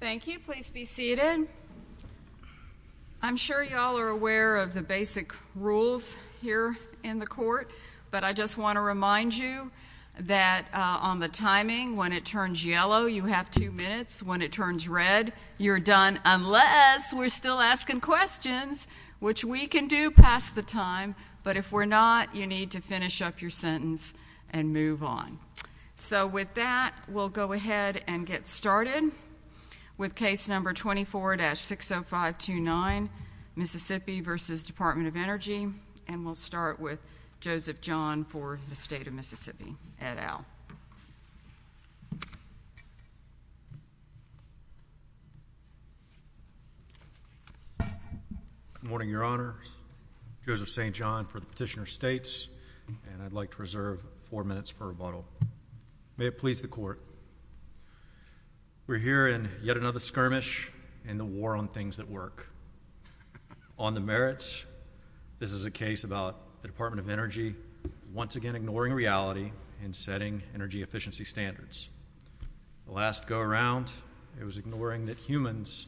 Thank you. Please be seated. I'm sure you all are aware of the basic rules here in the court, but I just want to remind you that on the timing, when it turns yellow, you have which we can do past the time, but if we're not, you need to finish up your sentence and move on. So with that, we'll go ahead and get started with case number 24-60529, Mississippi v. Department of Energy, and we'll start with Joseph John for the State of Mississippi. Eddow. Good morning, Your Honor. Joseph St. John for Petitioner States, and I'd like to reserve four minutes for rebuttal. May it please the Court. We're here in yet another skirmish in the war on things that work. On the merits, this is a case about the Department of Energy once again ignoring reality and setting energy efficiency standards. The last go-around, it was ignoring that humans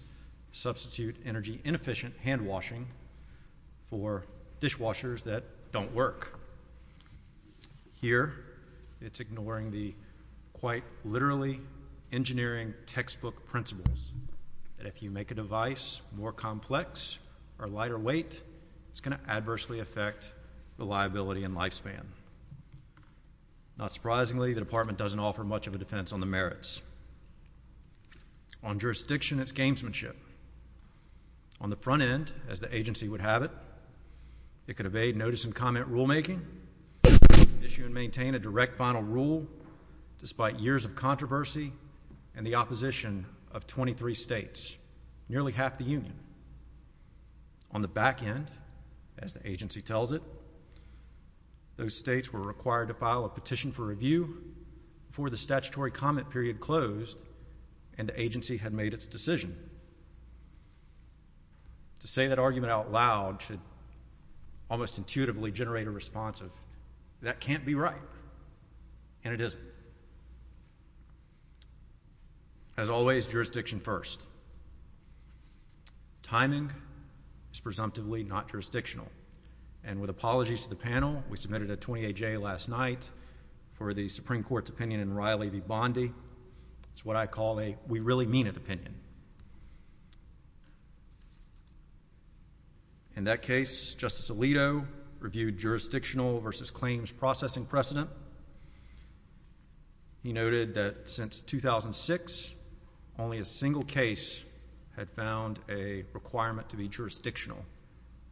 substitute energy inefficient handwashing for dishwashers that don't work. Here, it's ignoring the quite literally engineering textbook principles that if you make a device more complex or lighter weight, it's going to adversely affect the liability and lifespan. Not surprisingly, the Department doesn't offer much of a defense on the merits. On jurisdiction, it's gamesmanship. On the front end, as the agency would have it, it could evade notice and comment rulemaking, issue and maintain a direct final rule despite years of controversy and the opposition of 23 states, nearly half the union. On the back end, as the agency tells it, those states were required to file a petition for review before the statutory comment period closed and the agency had made its decision. To say that argument out loud should almost intuitively generate a response of, that can't be right, and it isn't. As always, jurisdiction first. Timing is presumptively not jurisdictional, and with apologies to the panel, we submitted a 28-J last night for the Supreme Court's opinion in Riley v. Bondi. It's what I call a we-really-mean-it opinion. In that case, Justice Alito reviewed jurisdictional versus claims processing precedent. He noted that since 2006, only a single case had found a requirement to be jurisdictional,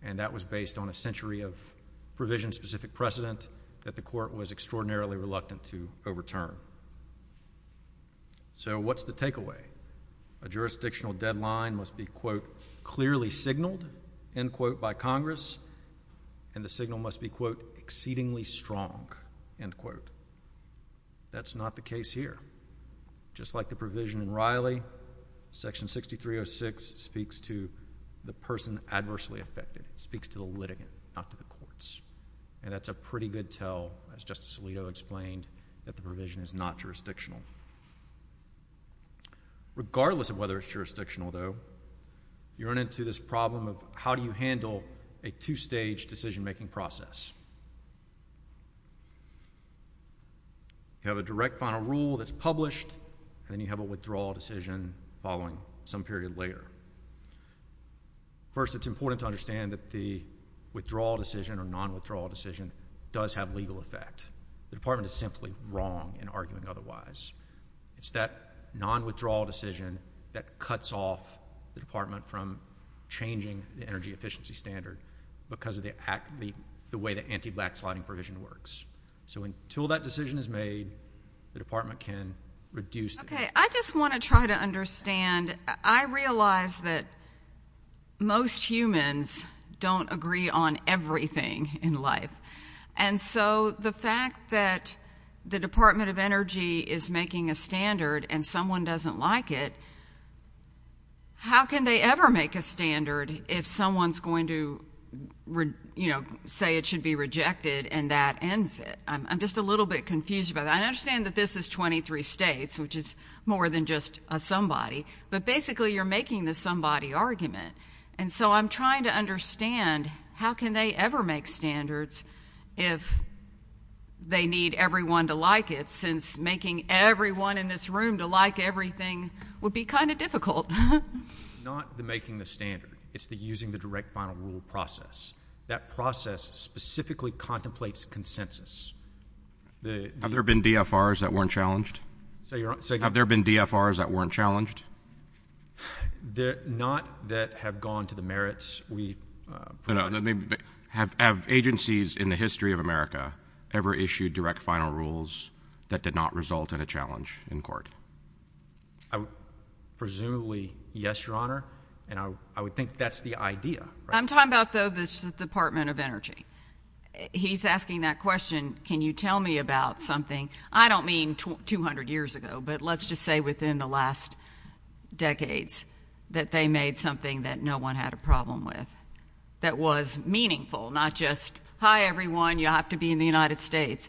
and that was based on a century of provision-specific precedent that the Court was extraordinarily reluctant to overturn. So what's the takeaway? A jurisdictional deadline must be, quote, clearly signaled, end quote, by Congress, and the signal must be, quote, exceedingly strong, end quote. That's not the case here. Just like the provision in Riley, Section 6306 speaks to the person adversely affected. It speaks to the litigant, not to the courts, and that's a pretty good tell, as Justice Alito explained, that the provision is not jurisdictional. Regardless of whether it's jurisdictional, though, you run into this problem of how do you handle a two-stage decision-making process? You have a direct final rule that's published, and then you have a withdrawal decision following some period later. First, it's important to understand that the withdrawal decision or non-withdrawal decision does have a legal effect. The Department is simply wrong in arguing otherwise. It's that non-withdrawal decision that cuts off the Department from changing the energy efficiency standard because of the way the anti-blacksliding provision works. So until that decision is made, the Department can reduce it. Okay. I just want to try to understand. I realize that most humans don't agree on everything in life, and so the fact that the Department of Energy is making a standard and someone doesn't like it, how can they ever make a standard if someone's going to say it should be rejected and that ends it? I'm just a little bit confused about that. I understand that this is 23 states, which is more than just a somebody, but basically you're making the somebody argument, and so I'm trying to understand how can they ever make standards if they need everyone to like it, since making everyone in this room to like everything would be kind of difficult. Not the making the standard. It's the using the direct final rule process. That process specifically contemplates consensus. Have there been DFRs that weren't challenged? Have there been DFRs that weren't challenged? Not that have gone to the merits. No, no. Have agencies in the history of America ever issued direct final rules that did not result in a challenge in court? Presumably, yes, Your Honor, and I would think that's the idea. I'm talking about, though, the Department of Energy. He's asking that question, can you tell me about something, I don't mean 200 years ago, but let's just say within the last decades that they made something that no one had a problem with, that was meaningful, not just, hi, everyone, you have to be in the United States.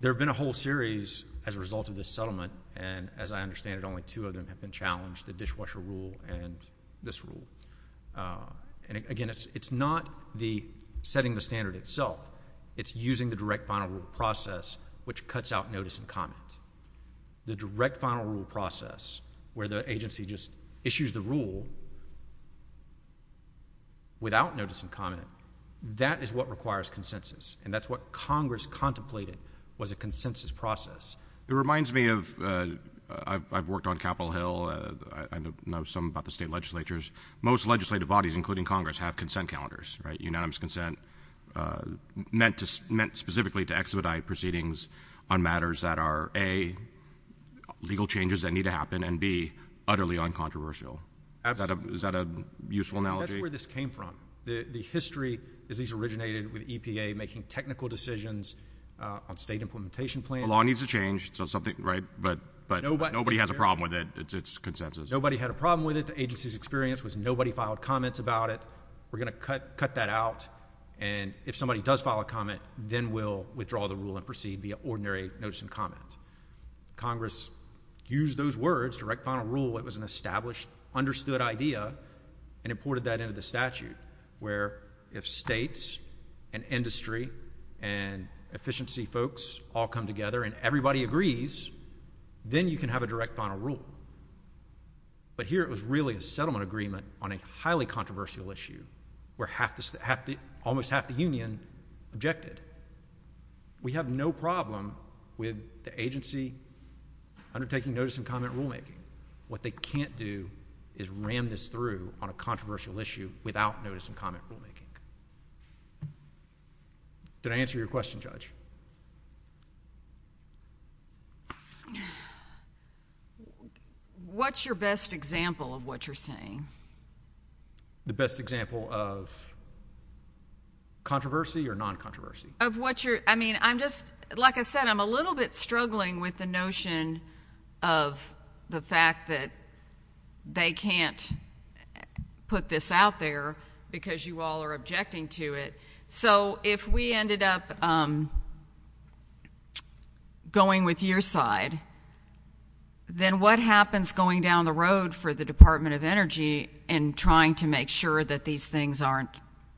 There have been a whole series as a result of this settlement, and as I understand it, only two of them have been challenged, the dishwasher rule and this rule. And again, it's not the setting the standard itself, it's using the direct final rule process, which cuts out notice and comment. The direct final rule process where the agency just issues the rule without notice and comment, that is what requires consensus, and that's what Congress contemplated was a consensus process. It reminds me of, I've worked on Capitol Hill, I know some about the state legislatures, most legislative bodies, including Congress, have consent calendars, right, unanimous consent, meant specifically to expedite proceedings on matters that are, A, legal changes that need to happen, and B, utterly uncontroversial. Is that a useful analogy? That's where this came from. The history is these originated with EPA making technical decisions on state implementation plans. The law needs to change, so something, right, but nobody has a problem with it, it's consensus. Nobody had a problem with it, the agency's experience was nobody filed comments about it, we're going to cut that out, and if somebody does file a comment, then we'll withdraw the rule and proceed via ordinary notice and comment. Congress used those words, direct final rule, it was an established, understood idea, and imported that into the statute, where if states and industry and efficiency folks all come together and everybody agrees, then you can have a direct final rule. But here, it was really a settlement agreement on a highly controversial issue, where half the, almost half the union objected. We have no problem with the agency undertaking notice and comment rulemaking. What they can't do is ram this through on a controversial issue without notice and comment rulemaking. Did I answer your question, Judge? What's your best example of what you're saying? The best example of controversy or non-controversy? Of what you're, I mean, I'm just, like I said, I'm a little bit struggling with the notion of the fact that they can't put this out there because you all are objecting to it, so if we ended up going with your side, then what happens going down the road for the Department of Energy in trying to make sure that these things aren't,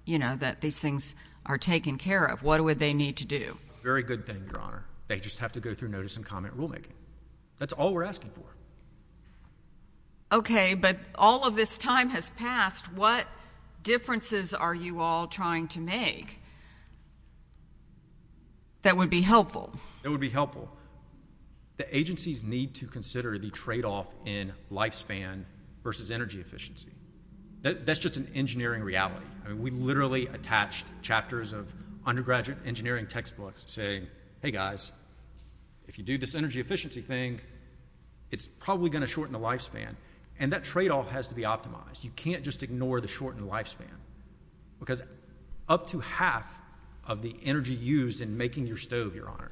you know, that these things are taken care of? What would they need to do? Very good thing, Your Honor. They just have to go through notice and comment rulemaking. That's all we're asking for. Okay, but all of this time has passed. What differences are you all trying to make? That would be helpful. That would be helpful. The agencies need to consider the tradeoff in lifespan versus energy efficiency. That's just an engineering reality. I mean, we literally attached chapters of undergraduate engineering textbooks saying, hey, guys, if you do this energy efficiency thing, it's probably going to shorten the lifespan, and that tradeoff has to be optimized. You can't just ignore the shortened lifespan, because up to half of the energy used in making your stove, Your Honor,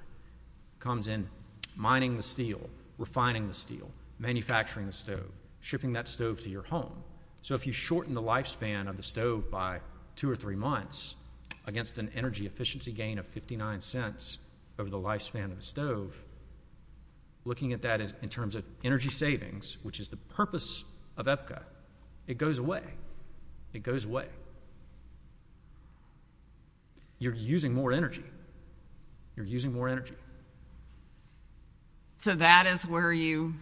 comes in mining the steel, refining the steel, manufacturing the stove, shipping that stove to your home. So if you shorten the lifespan of the stove by two or three months against an energy efficiency gain of 59 cents over the lifespan of the stove, it goes away. It goes away. You're using more energy. You're using more energy. So that is where you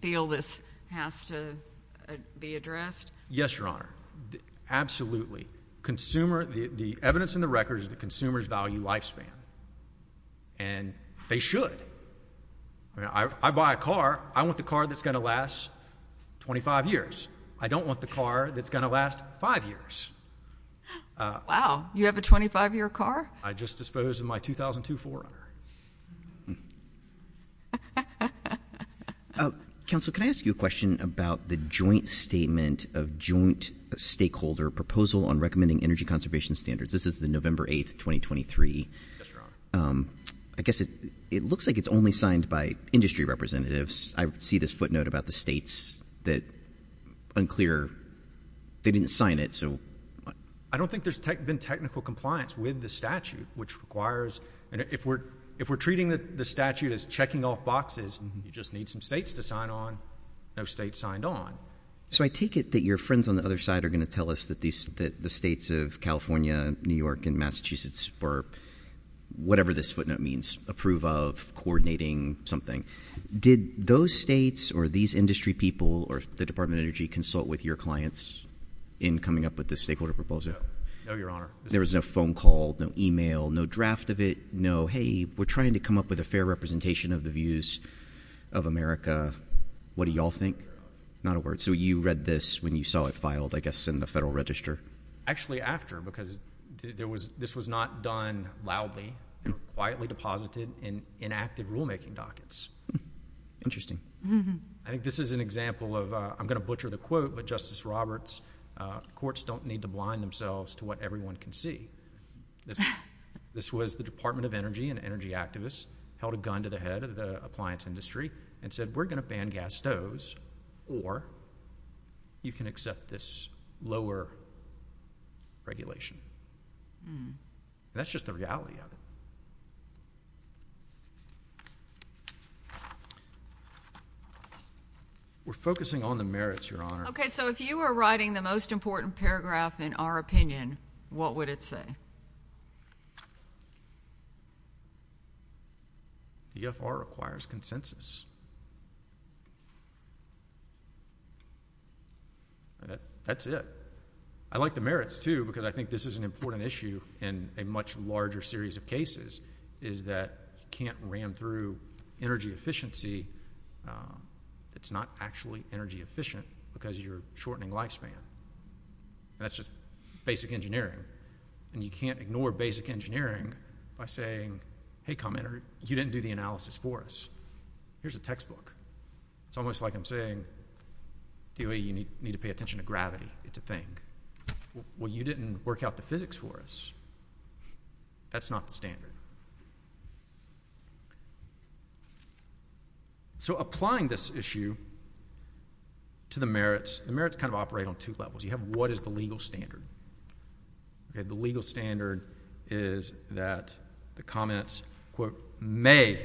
feel this has to be addressed? Yes, Your Honor. Absolutely. The evidence in the record is that consumers value lifespan, and they should. I buy a car. I want the car that's going to last 25 years. I don't want the car that's going to last five years. Wow. You have a 25-year car? I just disposed of my 2002 Forerunner. Council, can I ask you a question about the joint statement of joint stakeholder proposal on recommending energy conservation standards? This is the November 8th, 2023. Yes, Your Honor. I guess it looks like it's only signed by industry representatives. I see this footnote about the states that unclear. They didn't sign it. I don't think there's been technical compliance with the statute. If we're treating the statute as checking off boxes, you just need some states to sign on, no states signed on. So I take it that your friends on the other side are going to tell us that the states of California, New York, and Massachusetts were, whatever this footnote means, approve of coordinating something. Did those states or these industry people or the Department of Energy consult with your clients in coming up with this stakeholder proposal? No, Your Honor. There was no phone call, no email, no draft of it, no, hey, we're trying to come up with a fair representation of the views of America. What do y'all think? Not a word. So you read this when you saw it filed, I guess, in the Federal Register? Actually, after, because this was not done loudly, it was quietly deposited in inactive rulemaking dockets. Interesting. I think this is an example of, I'm going to butcher the quote, but Justice Roberts, courts don't need to blind themselves to what everyone can see. This was the Department of Energy and energy activists held a gun to the head of the appliance industry and said, we're going to ban gas stoves or you can accept this lower regulation. That's just the reality of it. We're focusing on the merits, Your Honor. Okay, so if you were writing the most important That's it. I like the merits, too, because I think this is an important issue in a much larger series of cases, is that you can't ram through energy efficiency that's not actually energy efficient because you're shortening lifespan. That's just basic engineering. And you can't ignore basic engineering by saying, hey, commenter, you didn't do the analysis for us. Here's a textbook. It's almost like I'm saying, DOE, you need to pay attention to gravity. It's a thing. Well, you didn't work out the physics for us. That's not the standard. So applying this issue to the merits, the merits kind of operate on two levels. You have what is the legal standard? Okay, the legal standard is that the comments, quote, may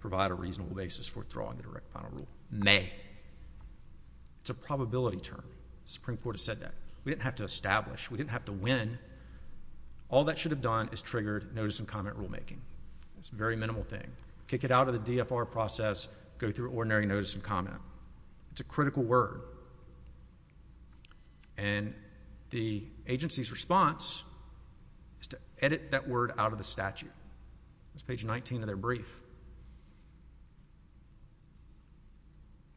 provide a reasonable basis for withdrawing the direct final rule. May. It's a probability term. The Supreme Court has said that. We didn't have to establish. We didn't have to win. All that should have done is triggered notice and comment rulemaking. It's a very minimal thing. Kick it out of the DFR process, go through ordinary notice and comment. It's a critical word. And the agency's response is to edit that word out of the statute. It's page 19 of their brief.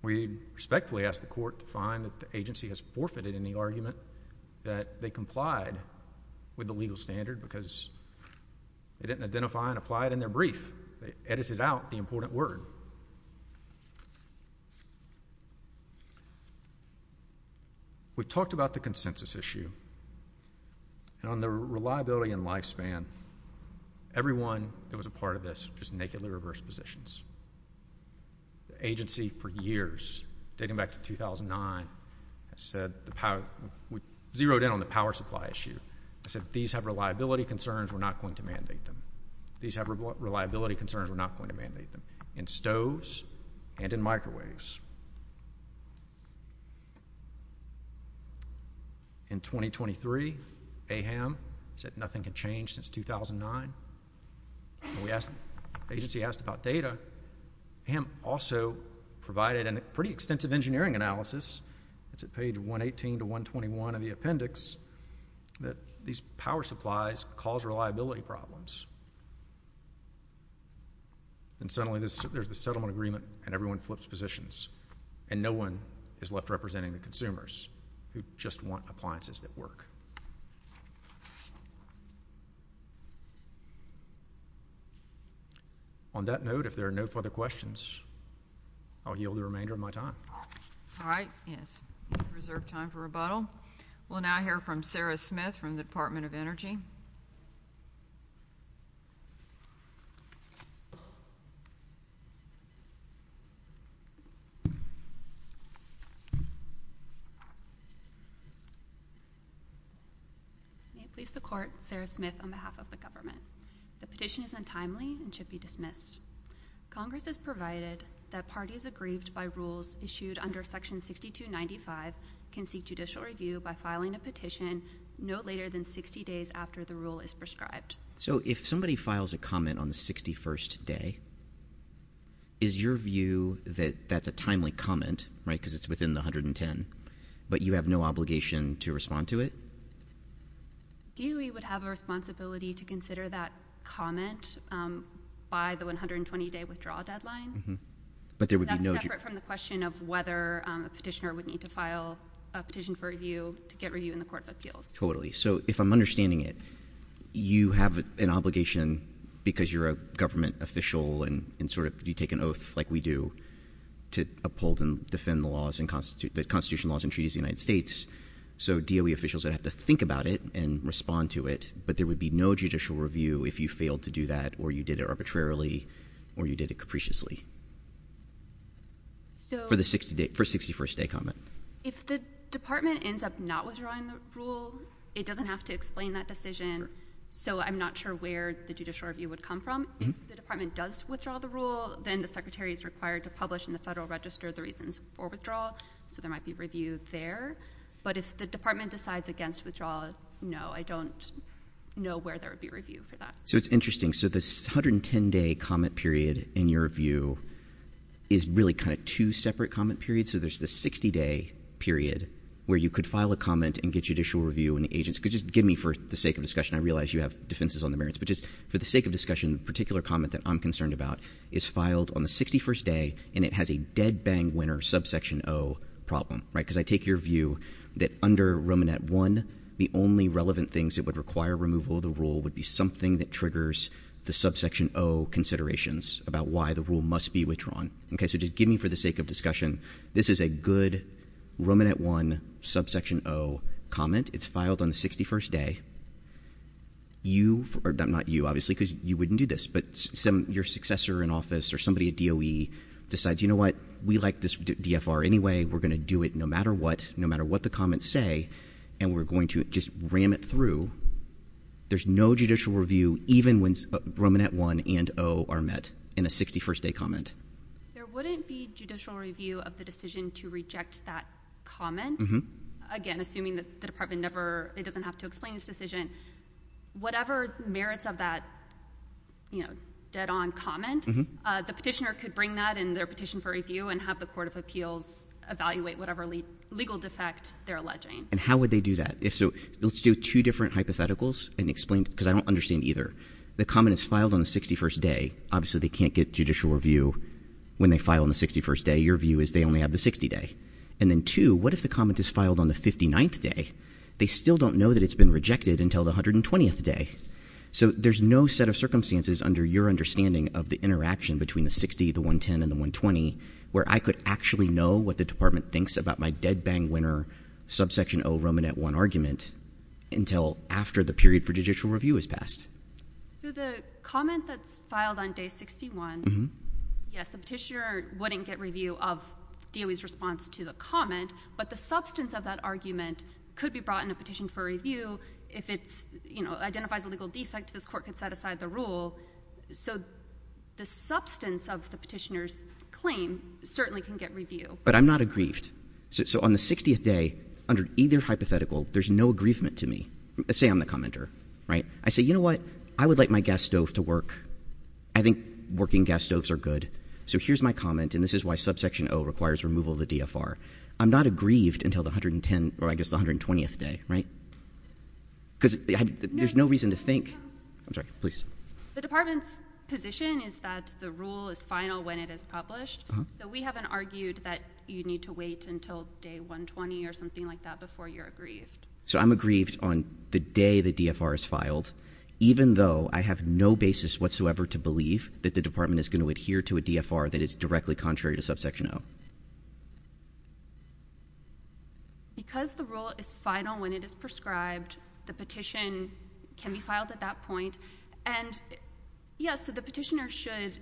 We respectfully ask the court to find that the agency has forfeited any argument that they complied with the legal standard because they didn't identify and provide in their brief. They edited out the important word. We talked about the consensus issue. And on the reliability and lifespan, everyone that was a part of this just nakedly reversed positions. The agency for years, dating back to 2009, has said, zeroed in on the power supply issue. These have reliability concerns. We're not going to mandate them. In stoves and in microwaves. In 2023, AHAM said nothing can change since 2009. We asked, the agency asked about data. AHAM also provided a pretty extensive engineering analysis. It's page 118 to 121 of the appendix that these power supplies cause reliability problems. And suddenly there's the settlement agreement and everyone flips positions. And no one is left representing the consumers who just want appliances that work. On that note, if there are no further questions, I'll yield the remainder of my time. All right. Yes. We have reserved time for rebuttal. We'll now hear from Sarah Smith from the Department of Energy. May it please the court, Sarah Smith on behalf of the government. The petition is untimely and should be dismissed. Congress has provided that parties aggrieved by rules issued under section 6295 can seek judicial review by filing a petition no later than 60 days after the rule is prescribed. So if somebody files a comment on the 61st day, is your view that that's a timely comment, right? Because it's within the 110, but you have no obligation to respond to it? DOE would have a responsibility to consider that comment by the 120-day withdrawal deadline. But there would be no— That's separate from the question of whether a petitioner would need to file a petition for review to get review in the Court of Appeals. Totally. So if I'm understanding it, you have an obligation because you're a government official and sort of you take an oath like we do to uphold and defend the laws and constitution—the laws and treaties of the United States. So DOE officials would have to think about it and respond to it, but there would be no judicial review if you failed to do that or you did it arbitrarily or you did it capriciously. So— For the 60—for 61st day comment. If the department ends up not withdrawing the rule, it doesn't have to explain that decision. So I'm not sure where the judicial review would come from. If the department does withdraw the rule, then the secretary is required to publish in the federal register the reasons for withdrawal. So there might be review there. But if the department decides against withdrawal, no, I don't know where there would be review for that. So it's interesting. So this 110-day comment period in your review is really kind of two separate comment periods. So there's the 60-day period where you could file a comment and get judicial review and the agents could just give me for the sake of discussion. I realize you have defenses on the merits, but just for the sake of discussion, the particular comment that I'm concerned about is filed on the 61st day and it has a dead-bang winner subsection O problem, right? Because I take your view that under Romanet I, the only relevant things that would require removal of the rule would be something that triggers the subsection O considerations about why the rule must be withdrawn, okay? So just give me for the sake of discussion. This is a good Romanet I subsection O comment. It's filed on the 61st day. You, or not you, obviously, because you wouldn't do this, but your successor in office or somebody at DOE decides, you know what, we like this DFR anyway. We're going to do it no matter what, no matter what the comments say, and we're going to just ram it through. There's no judicial review even when Romanet I and O are met in a 61st-day comment. There wouldn't be judicial review of the decision to reject that comment. Again, assuming that the department never, it doesn't have to explain this decision, whatever merits of that, you know, dead-on comment, the petitioner could bring that in their petition for review and have the Court of Appeals evaluate whatever legal defect they're alleging. And how would they do that? If so, let's do two different hypotheticals and explain, because I don't understand either. The comment is filed on the 61st day. Obviously, they can't get judicial review when they file on the 61st day. Your view is they only have the 60th day. And then two, what if the comment is filed on the 59th day? They still don't know that it's been rejected until the 120th day. So there's no set of circumstances under your understanding of the interaction between the 60, the 110, and the 120 where I could actually know what the department thinks about my dead-bang winner subsection O Romanet I argument until after the period for judicial review has passed. So the comment that's filed on day 61, yes, the petitioner wouldn't get review of DOE's response to the comment. But the substance of that argument could be brought in a petition for review if it identifies a legal defect. This court could set aside the rule. So the substance of the petitioner's claim certainly can get review. But I'm not aggrieved. So on the 60th day, under either hypothetical, there's no aggrievement to me. Say I'm the commenter. I say, you know what? I would like my gas stove to work. I think working gas stoves are good. So here's my comment. And this is why subsection O requires removal of the DFR. I'm not aggrieved until the 110, or I guess the 120th day, right? Because there's no reason to think. I'm sorry. Please. The department's position is that the rule is final when it is published. So we haven't argued that you need to wait until day 120 or something like that before you're aggrieved. So I'm aggrieved on the day the DFR is filed, even though I have no basis whatsoever to believe that the department is going to adhere to a DFR that is directly contrary to subsection O. Because the rule is final when it is prescribed, the petition can be filed at that point. And yes, so the petitioner should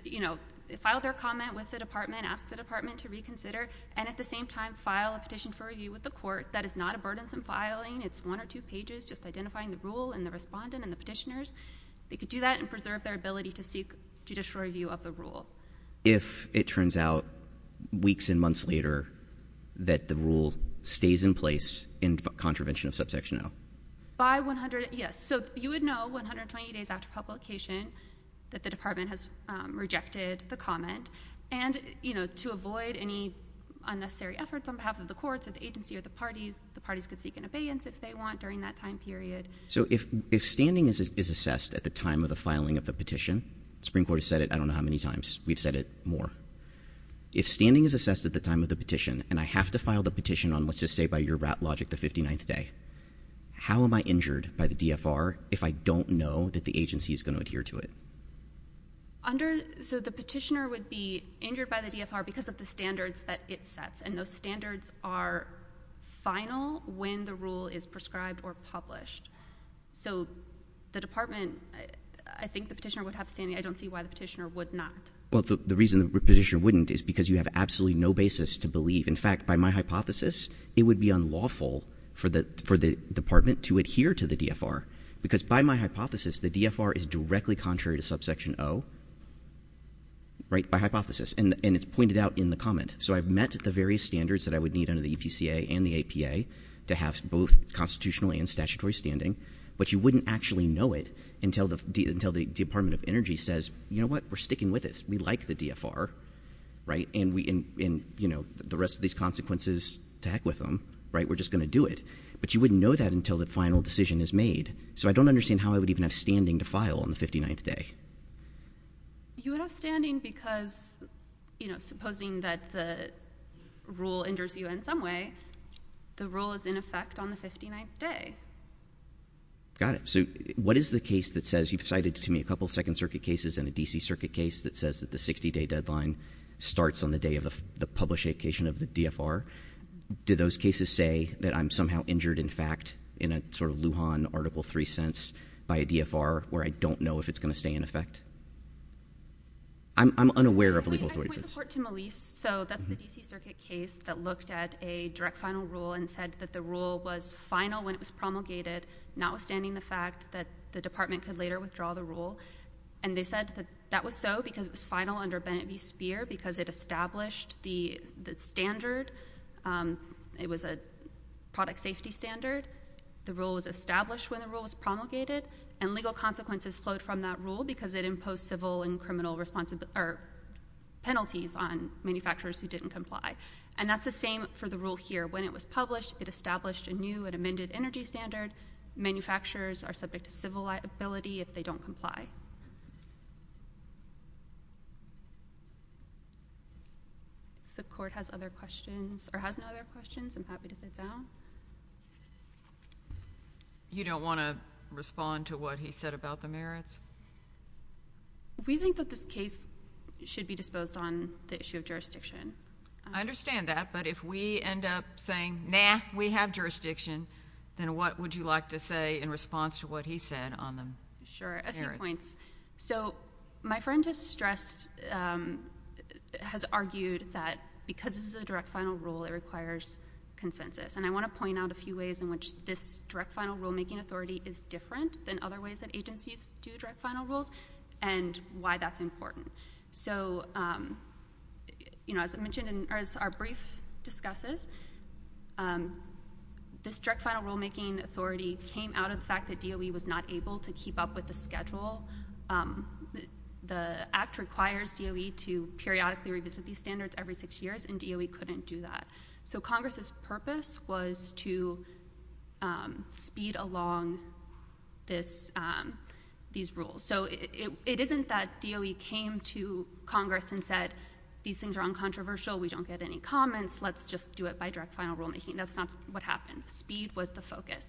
file their comment with the department, ask the department to reconsider, and at the same time file a petition for review with the court. That is not a burdensome filing. It's one or two pages, just identifying the rule and the respondent and the petitioners. They could do that and preserve their ability to seek judicial review of the rule. If it turns out weeks and months later that the rule stays in place in contravention of subsection O? By 100, yes. So you would know 120 days after publication that the department has rejected the comment. And, you know, to avoid any unnecessary efforts on behalf of the courts or the agency or the parties, the parties could seek an abeyance if they want during that time period. So if standing is assessed at the time of the filing of the petition, the Supreme Court has said it I don't know how many times. We've said it more. If standing is assessed at the time of the petition and I have to file the petition on, let's just say by your rat logic, the 59th day, how am I injured by the DFR if I don't know that the agency is going to adhere to it? So the petitioner would be injured by the DFR because of the standards that it sets. And those standards are final when the rule is prescribed or published. So the department, I think the petitioner would have standing. I don't see why the petitioner would not. Well, the reason the petitioner wouldn't is because you have absolutely no basis to believe. In fact, by my hypothesis, it would be unlawful for the department to adhere to the DFR because by my hypothesis, the DFR is directly contrary to subsection O, right, by hypothesis. And it's pointed out in the comment. So I've met the various standards that I would need under the EPCA and the APA to have both constitutional and statutory standing. But you wouldn't actually know it until the Department of Energy says, you know what, we're sticking with this. We like the DFR, right, and the rest of these consequences, to heck with them, right, we're just going to do it. But you wouldn't know that until the final decision is made. So I don't understand how I would even have standing to file on the 59th day. You would have standing because, you know, supposing that the rule injures you in some way, the rule is in effect on the 59th day. Got it. So what is the case that says, you've cited to me a couple of Second Circuit cases and a D.C. Circuit case that says that the 60-day deadline starts on the day of the published application of the DFR. Do those cases say that I'm somehow injured, in fact, in a sort of Lujan Article 3 sense by a DFR where I don't know if it's going to stay in effect? I'm unaware of a legal... I point the court to Malise. So that's the D.C. Circuit case that looked at a direct final rule and said that the rule was final when it was promulgated, notwithstanding the fact that the department could later withdraw the rule. And they said that that was so because it was final under Bennett v. Speer because it established the standard. It was a product safety standard. The rule was established when the rule was promulgated. And legal consequences flowed from that rule because it imposed civil and criminal penalties on manufacturers who didn't comply. And that's the same for the rule here. When it was published, it established a new and amended energy standard. Manufacturers are subject to civil liability if they don't comply. If the court has other questions or has no other questions, I'm happy to sit down. You don't want to respond to what he said about the merits? We think that this case should be disposed on the issue of jurisdiction. I understand that. But if we end up saying, nah, we have jurisdiction, then what would you like to say in response to what he said on the merits? Sure. A few points. So my friend has stressed, has argued that because this is a direct final rule, it requires consensus. And I want to point out a few ways in which this direct final rules and why that's important. So, you know, as I mentioned in our brief discusses, this direct final rulemaking authority came out of the fact that DOE was not able to keep up with the schedule. The Act requires DOE to periodically revisit these standards every six years, and DOE couldn't do that. So Congress's purpose was to speed along these rules. So it isn't that DOE came to Congress and said, these things are uncontroversial, we don't get any comments, let's just do it by direct final rulemaking. That's not what happened. Speed was the focus.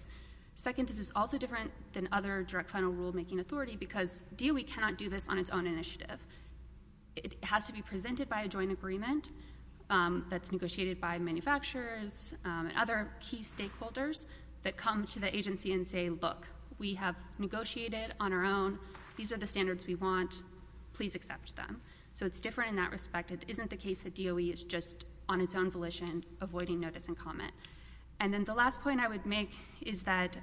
Second, this is also different than other direct final rulemaking authority because DOE cannot do this on its own initiative. It has to be presented by a joint agreement that's negotiated by manufacturers and other key stakeholders that come to the agency and say, look, we have negotiated on our own, these are the standards we want, please accept them. So it's different in that respect. It isn't the case that DOE is just on its own volition avoiding notice and comment. And then the last point I would make is that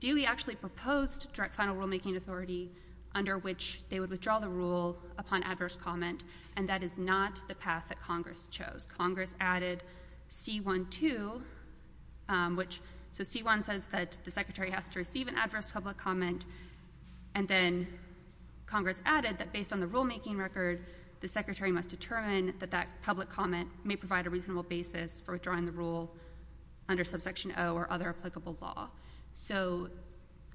DOE actually proposed direct final rulemaking authority under which they would withdraw the rule upon adverse comment, and that is not the path that Congress chose. Congress added C-1-2, which, so C-1 says that the Secretary has to receive an adverse public comment, and then Congress added that based on the rulemaking record, the Secretary must determine that that public comment may provide a reasonable basis for withdrawing the rule under subsection O or other applicable law. So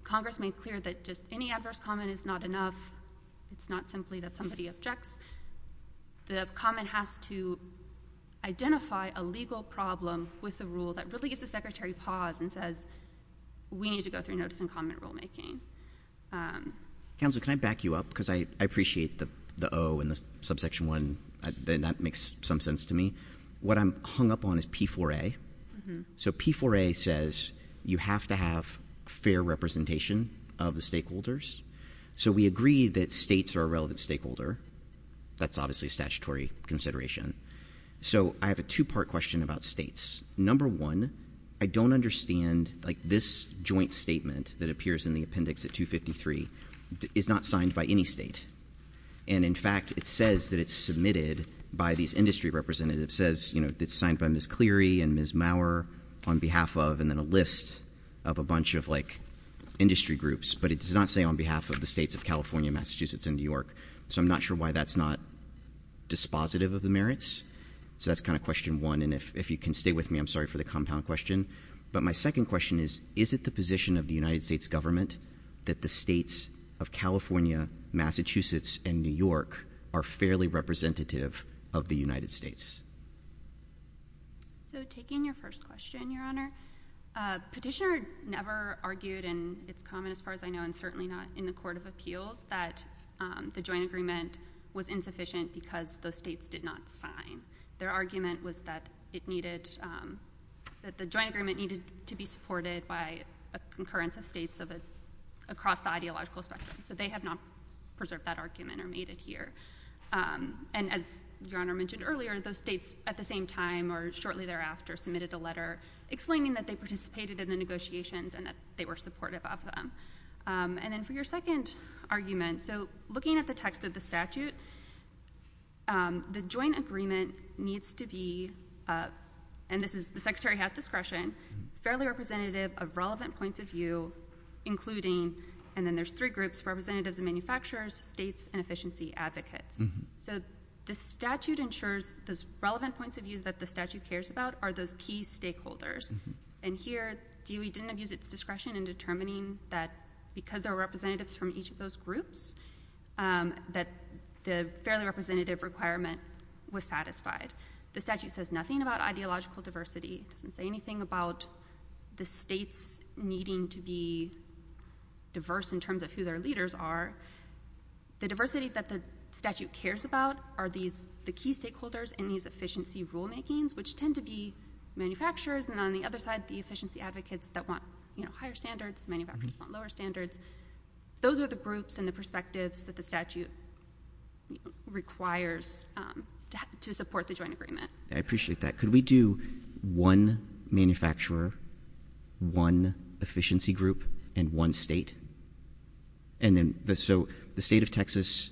Congress made clear that just any adverse comment is not enough. It's not simply that somebody objects. The comment has to identify a legal problem with the rule that really gives the Secretary pause and says, we need to go through notice and comment rulemaking. Counselor, can I back you up? Because I appreciate the O and the subsection 1, and that makes some sense to me. What I'm hung up on is P-4A. So P-4A says you have to have fair representation of the stakeholders. So we agree that states are a relevant stakeholder. That's obviously statutory consideration. So I have a two-part question about states. Number one, I don't understand, like, this joint statement that appears in the appendix at 253 is not signed by any state. And in fact, it says that it's submitted by these industry representatives. It says, you know, it's signed by Ms. Cleary and Ms. Maurer on behalf of, and then a list of a bunch of, like, industry groups. But it does not say on behalf of the states of California, Massachusetts, and New York. So I'm not sure why that's not dispositive of the merits. So that's kind of question one. And if you can stay with me, I'm sorry for the compound question. But my second question is, is it the position of the United States government that the states of California, Massachusetts, and New York are fairly representative of the United States? So taking your first question, Your Honor, Petitioner never argued, and it's common as far as I know, and certainly not in the Court of Appeals, that the joint agreement was insufficient because those states did not sign. Their argument was that it needed, that the joint agreement needed to be supported by a concurrence of states across the ideological spectrum. So they have not preserved that argument or made it here. And as Your Honor mentioned earlier, those states at the same time or shortly thereafter submitted a letter explaining that they participated in the negotiations and that they were supportive of them. And then for your second argument, so looking at the text of the statute, the joint agreement needs to be, and this is, the Secretary has discretion, fairly representative of relevant points of view, including, and then there's three groups, representatives and manufacturers, states, and efficiency advocates. So the statute ensures those relevant points of view that the statute cares about are those key stakeholders. And here, DOE didn't abuse its discretion in determining that because there were representatives from each of those groups, that the fairly representative requirement was satisfied. The statute says nothing about ideological diversity. It doesn't say anything about the states needing to be diverse in terms of who their leaders are. The diversity that the statute cares about are these, the key stakeholders in these efficiency rulemakings, which tend to be manufacturers. And on the other side, the efficiency advocates that want, you know, higher standards, manufacturers want lower standards. Those are the groups and the perspectives that the statute requires to support the joint agreement. I appreciate that. Could we do one manufacturer, one efficiency group, and one state? And then so the state of Texas,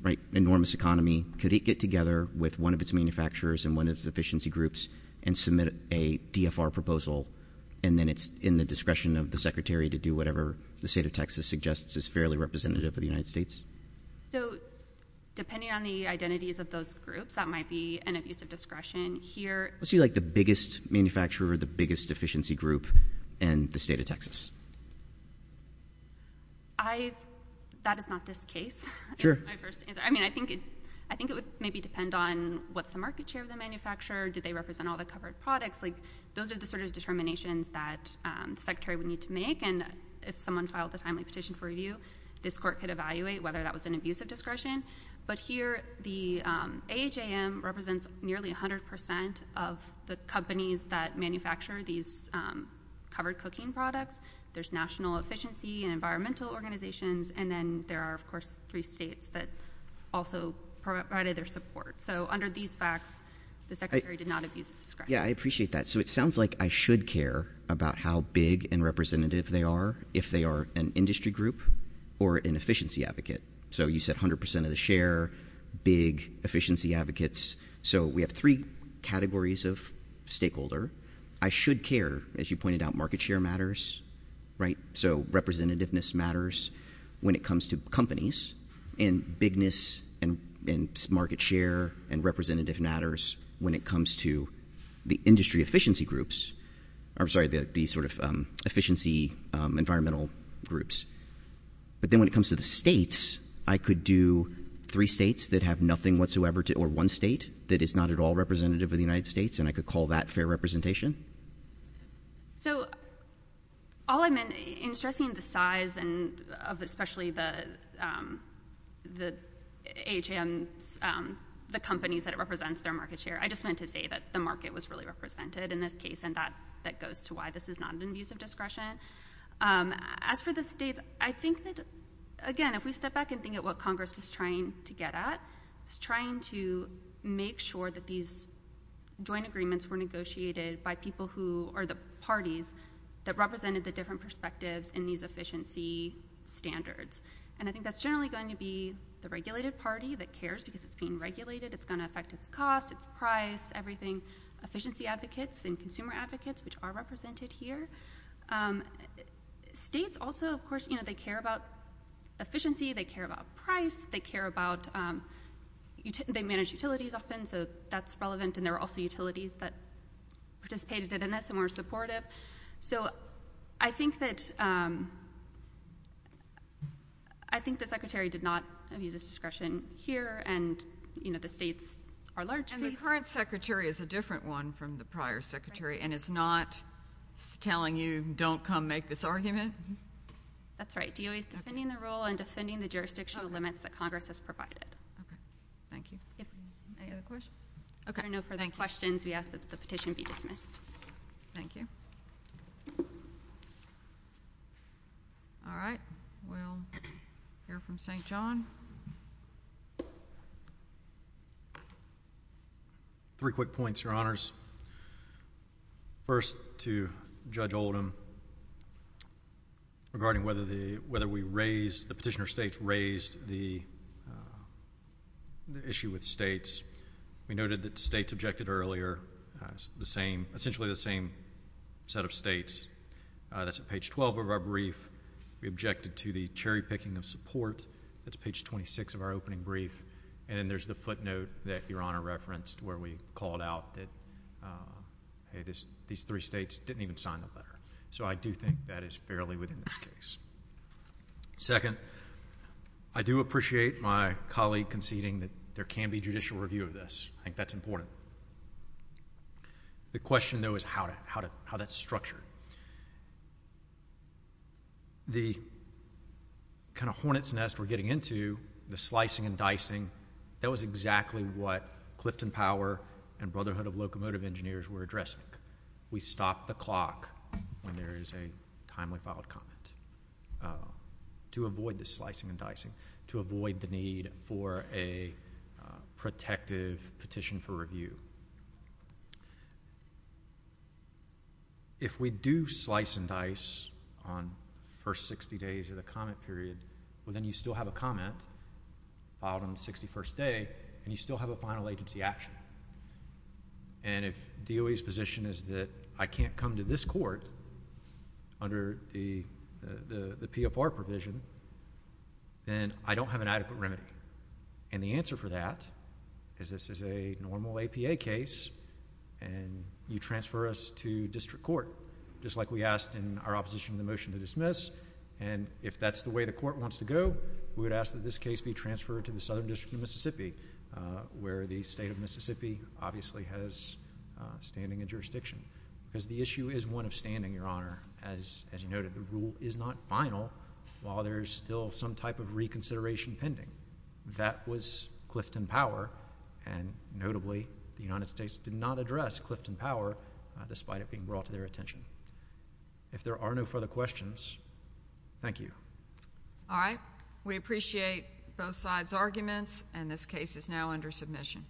right? Enormous economy. Could it get together with one of its manufacturers and one of its efficiency groups and submit a DFR proposal? And then it's in the discretion of the Secretary to do whatever the state of Texas suggests is fairly representative of the United States. So depending on the identities of those groups, that might be an abuse of discretion here. Let's do like the biggest manufacturer, the biggest efficiency group, and the state of Texas. That is not this case. Sure. I mean, I think it would maybe depend on what's the market share of the manufacturer. Did they represent all the covered products? Like those are the sort of determinations that the Secretary would need to make. And if someone filed a timely petition for review, this court could evaluate whether that was an abuse of discretion. But here, the AHAM represents nearly 100% of the companies that manufacture these covered cocaine products. There's national efficiency and environmental organizations. And then there are, of course, three states that also provided their support. So under these facts, the Secretary did not abuse of discretion. Yeah, I appreciate that. So it sounds like I should care about how big and representative they are, if they are an industry group or an efficiency advocate. So you said 100% of the share, big efficiency advocates. So we have three categories of stakeholder. I should care, as you pointed out, market share matters, right? So representativeness matters when it comes to companies. And bigness and market share and representative matters when it comes to the industry efficiency groups. I'm sorry, the sort of efficiency environmental groups. But then when it comes to the states, I could do three states that have nothing whatsoever to or one state that is not at all representative of the United States, and I could call that fair representation? So all I meant in stressing the size of especially the AHAM, the companies that it represents their market share, I just meant to say that the market was really represented in this case, and that goes to why this is not an abuse of discretion. As for the states, I think that, again, if we step back and think at what Congress was trying to get at, it's trying to make sure that these joint agreements were negotiated by people who are the parties that represented the different perspectives in these efficiency standards. And I think that's generally going to be the regulated party that cares, because it's being regulated. It's going to affect its cost, its price, everything. Efficiency advocates and consumer advocates, which are represented here. States also, of course, they care about efficiency, they care about price, they manage utilities often, so that's relevant, and there are also utilities that participated in this and were supportive. So I think that the Secretary did not abuse this discretion here, and the states are large states. And the current Secretary is a different one from the prior Secretary and is not telling you don't come make this argument? That's right. DOE is defending the rule and defending the jurisdictional limits that Congress has provided. Okay. Thank you. Any other questions? Okay. Thank you. If there are no further questions, we ask that the petition be dismissed. Thank you. All right. We'll hear from St. John. Three quick points, Your Honors. First, to Judge Oldham, regarding whether the petitioner states raised the issue with states, we noted that states objected earlier. It's the same set of states. That's at page 12 of our brief. We objected to the cherry-picking of support. That's page 26 of our opening brief. And then there's the footnote that Your Honor referenced where we called out that these three states didn't even sign the letter. So I do think that is fairly within this case. Second, I do appreciate my colleague conceding that there can be judicial review of this. I think that's important. The question, though, is how that's structured. The kind of hornet's nest we're getting into, the slicing and dicing, that was exactly what Clifton Power and Brotherhood of Locomotive Engineers were addressing. We stopped the clock when there is a timely filed comment to avoid the slicing and dicing, to avoid the need for a protective petition for review. If we do slice and dice on the first 60 days of the comment period, well, then you still have a comment filed on the 61st day, and you still have a final agency action. And if DOE's position is that I can't come to this court under the PFR provision, then I don't have an adequate remedy. And the answer for that is this is a normal APA case, and you transfer us to district court, just like we asked in our opposition to the motion to dismiss. And if that's the way the court wants to go, we would ask that this case be transferred to the Southern District of Mississippi, where the state of Mississippi obviously has standing and jurisdiction. Because the issue is one of standing, Your Honor, there's still some type of reconsideration pending. That was Clifton Power, and notably the United States did not address Clifton Power, despite it being brought to their attention. If there are no further questions, thank you. All right. We appreciate both sides' arguments, and this case is now under submission.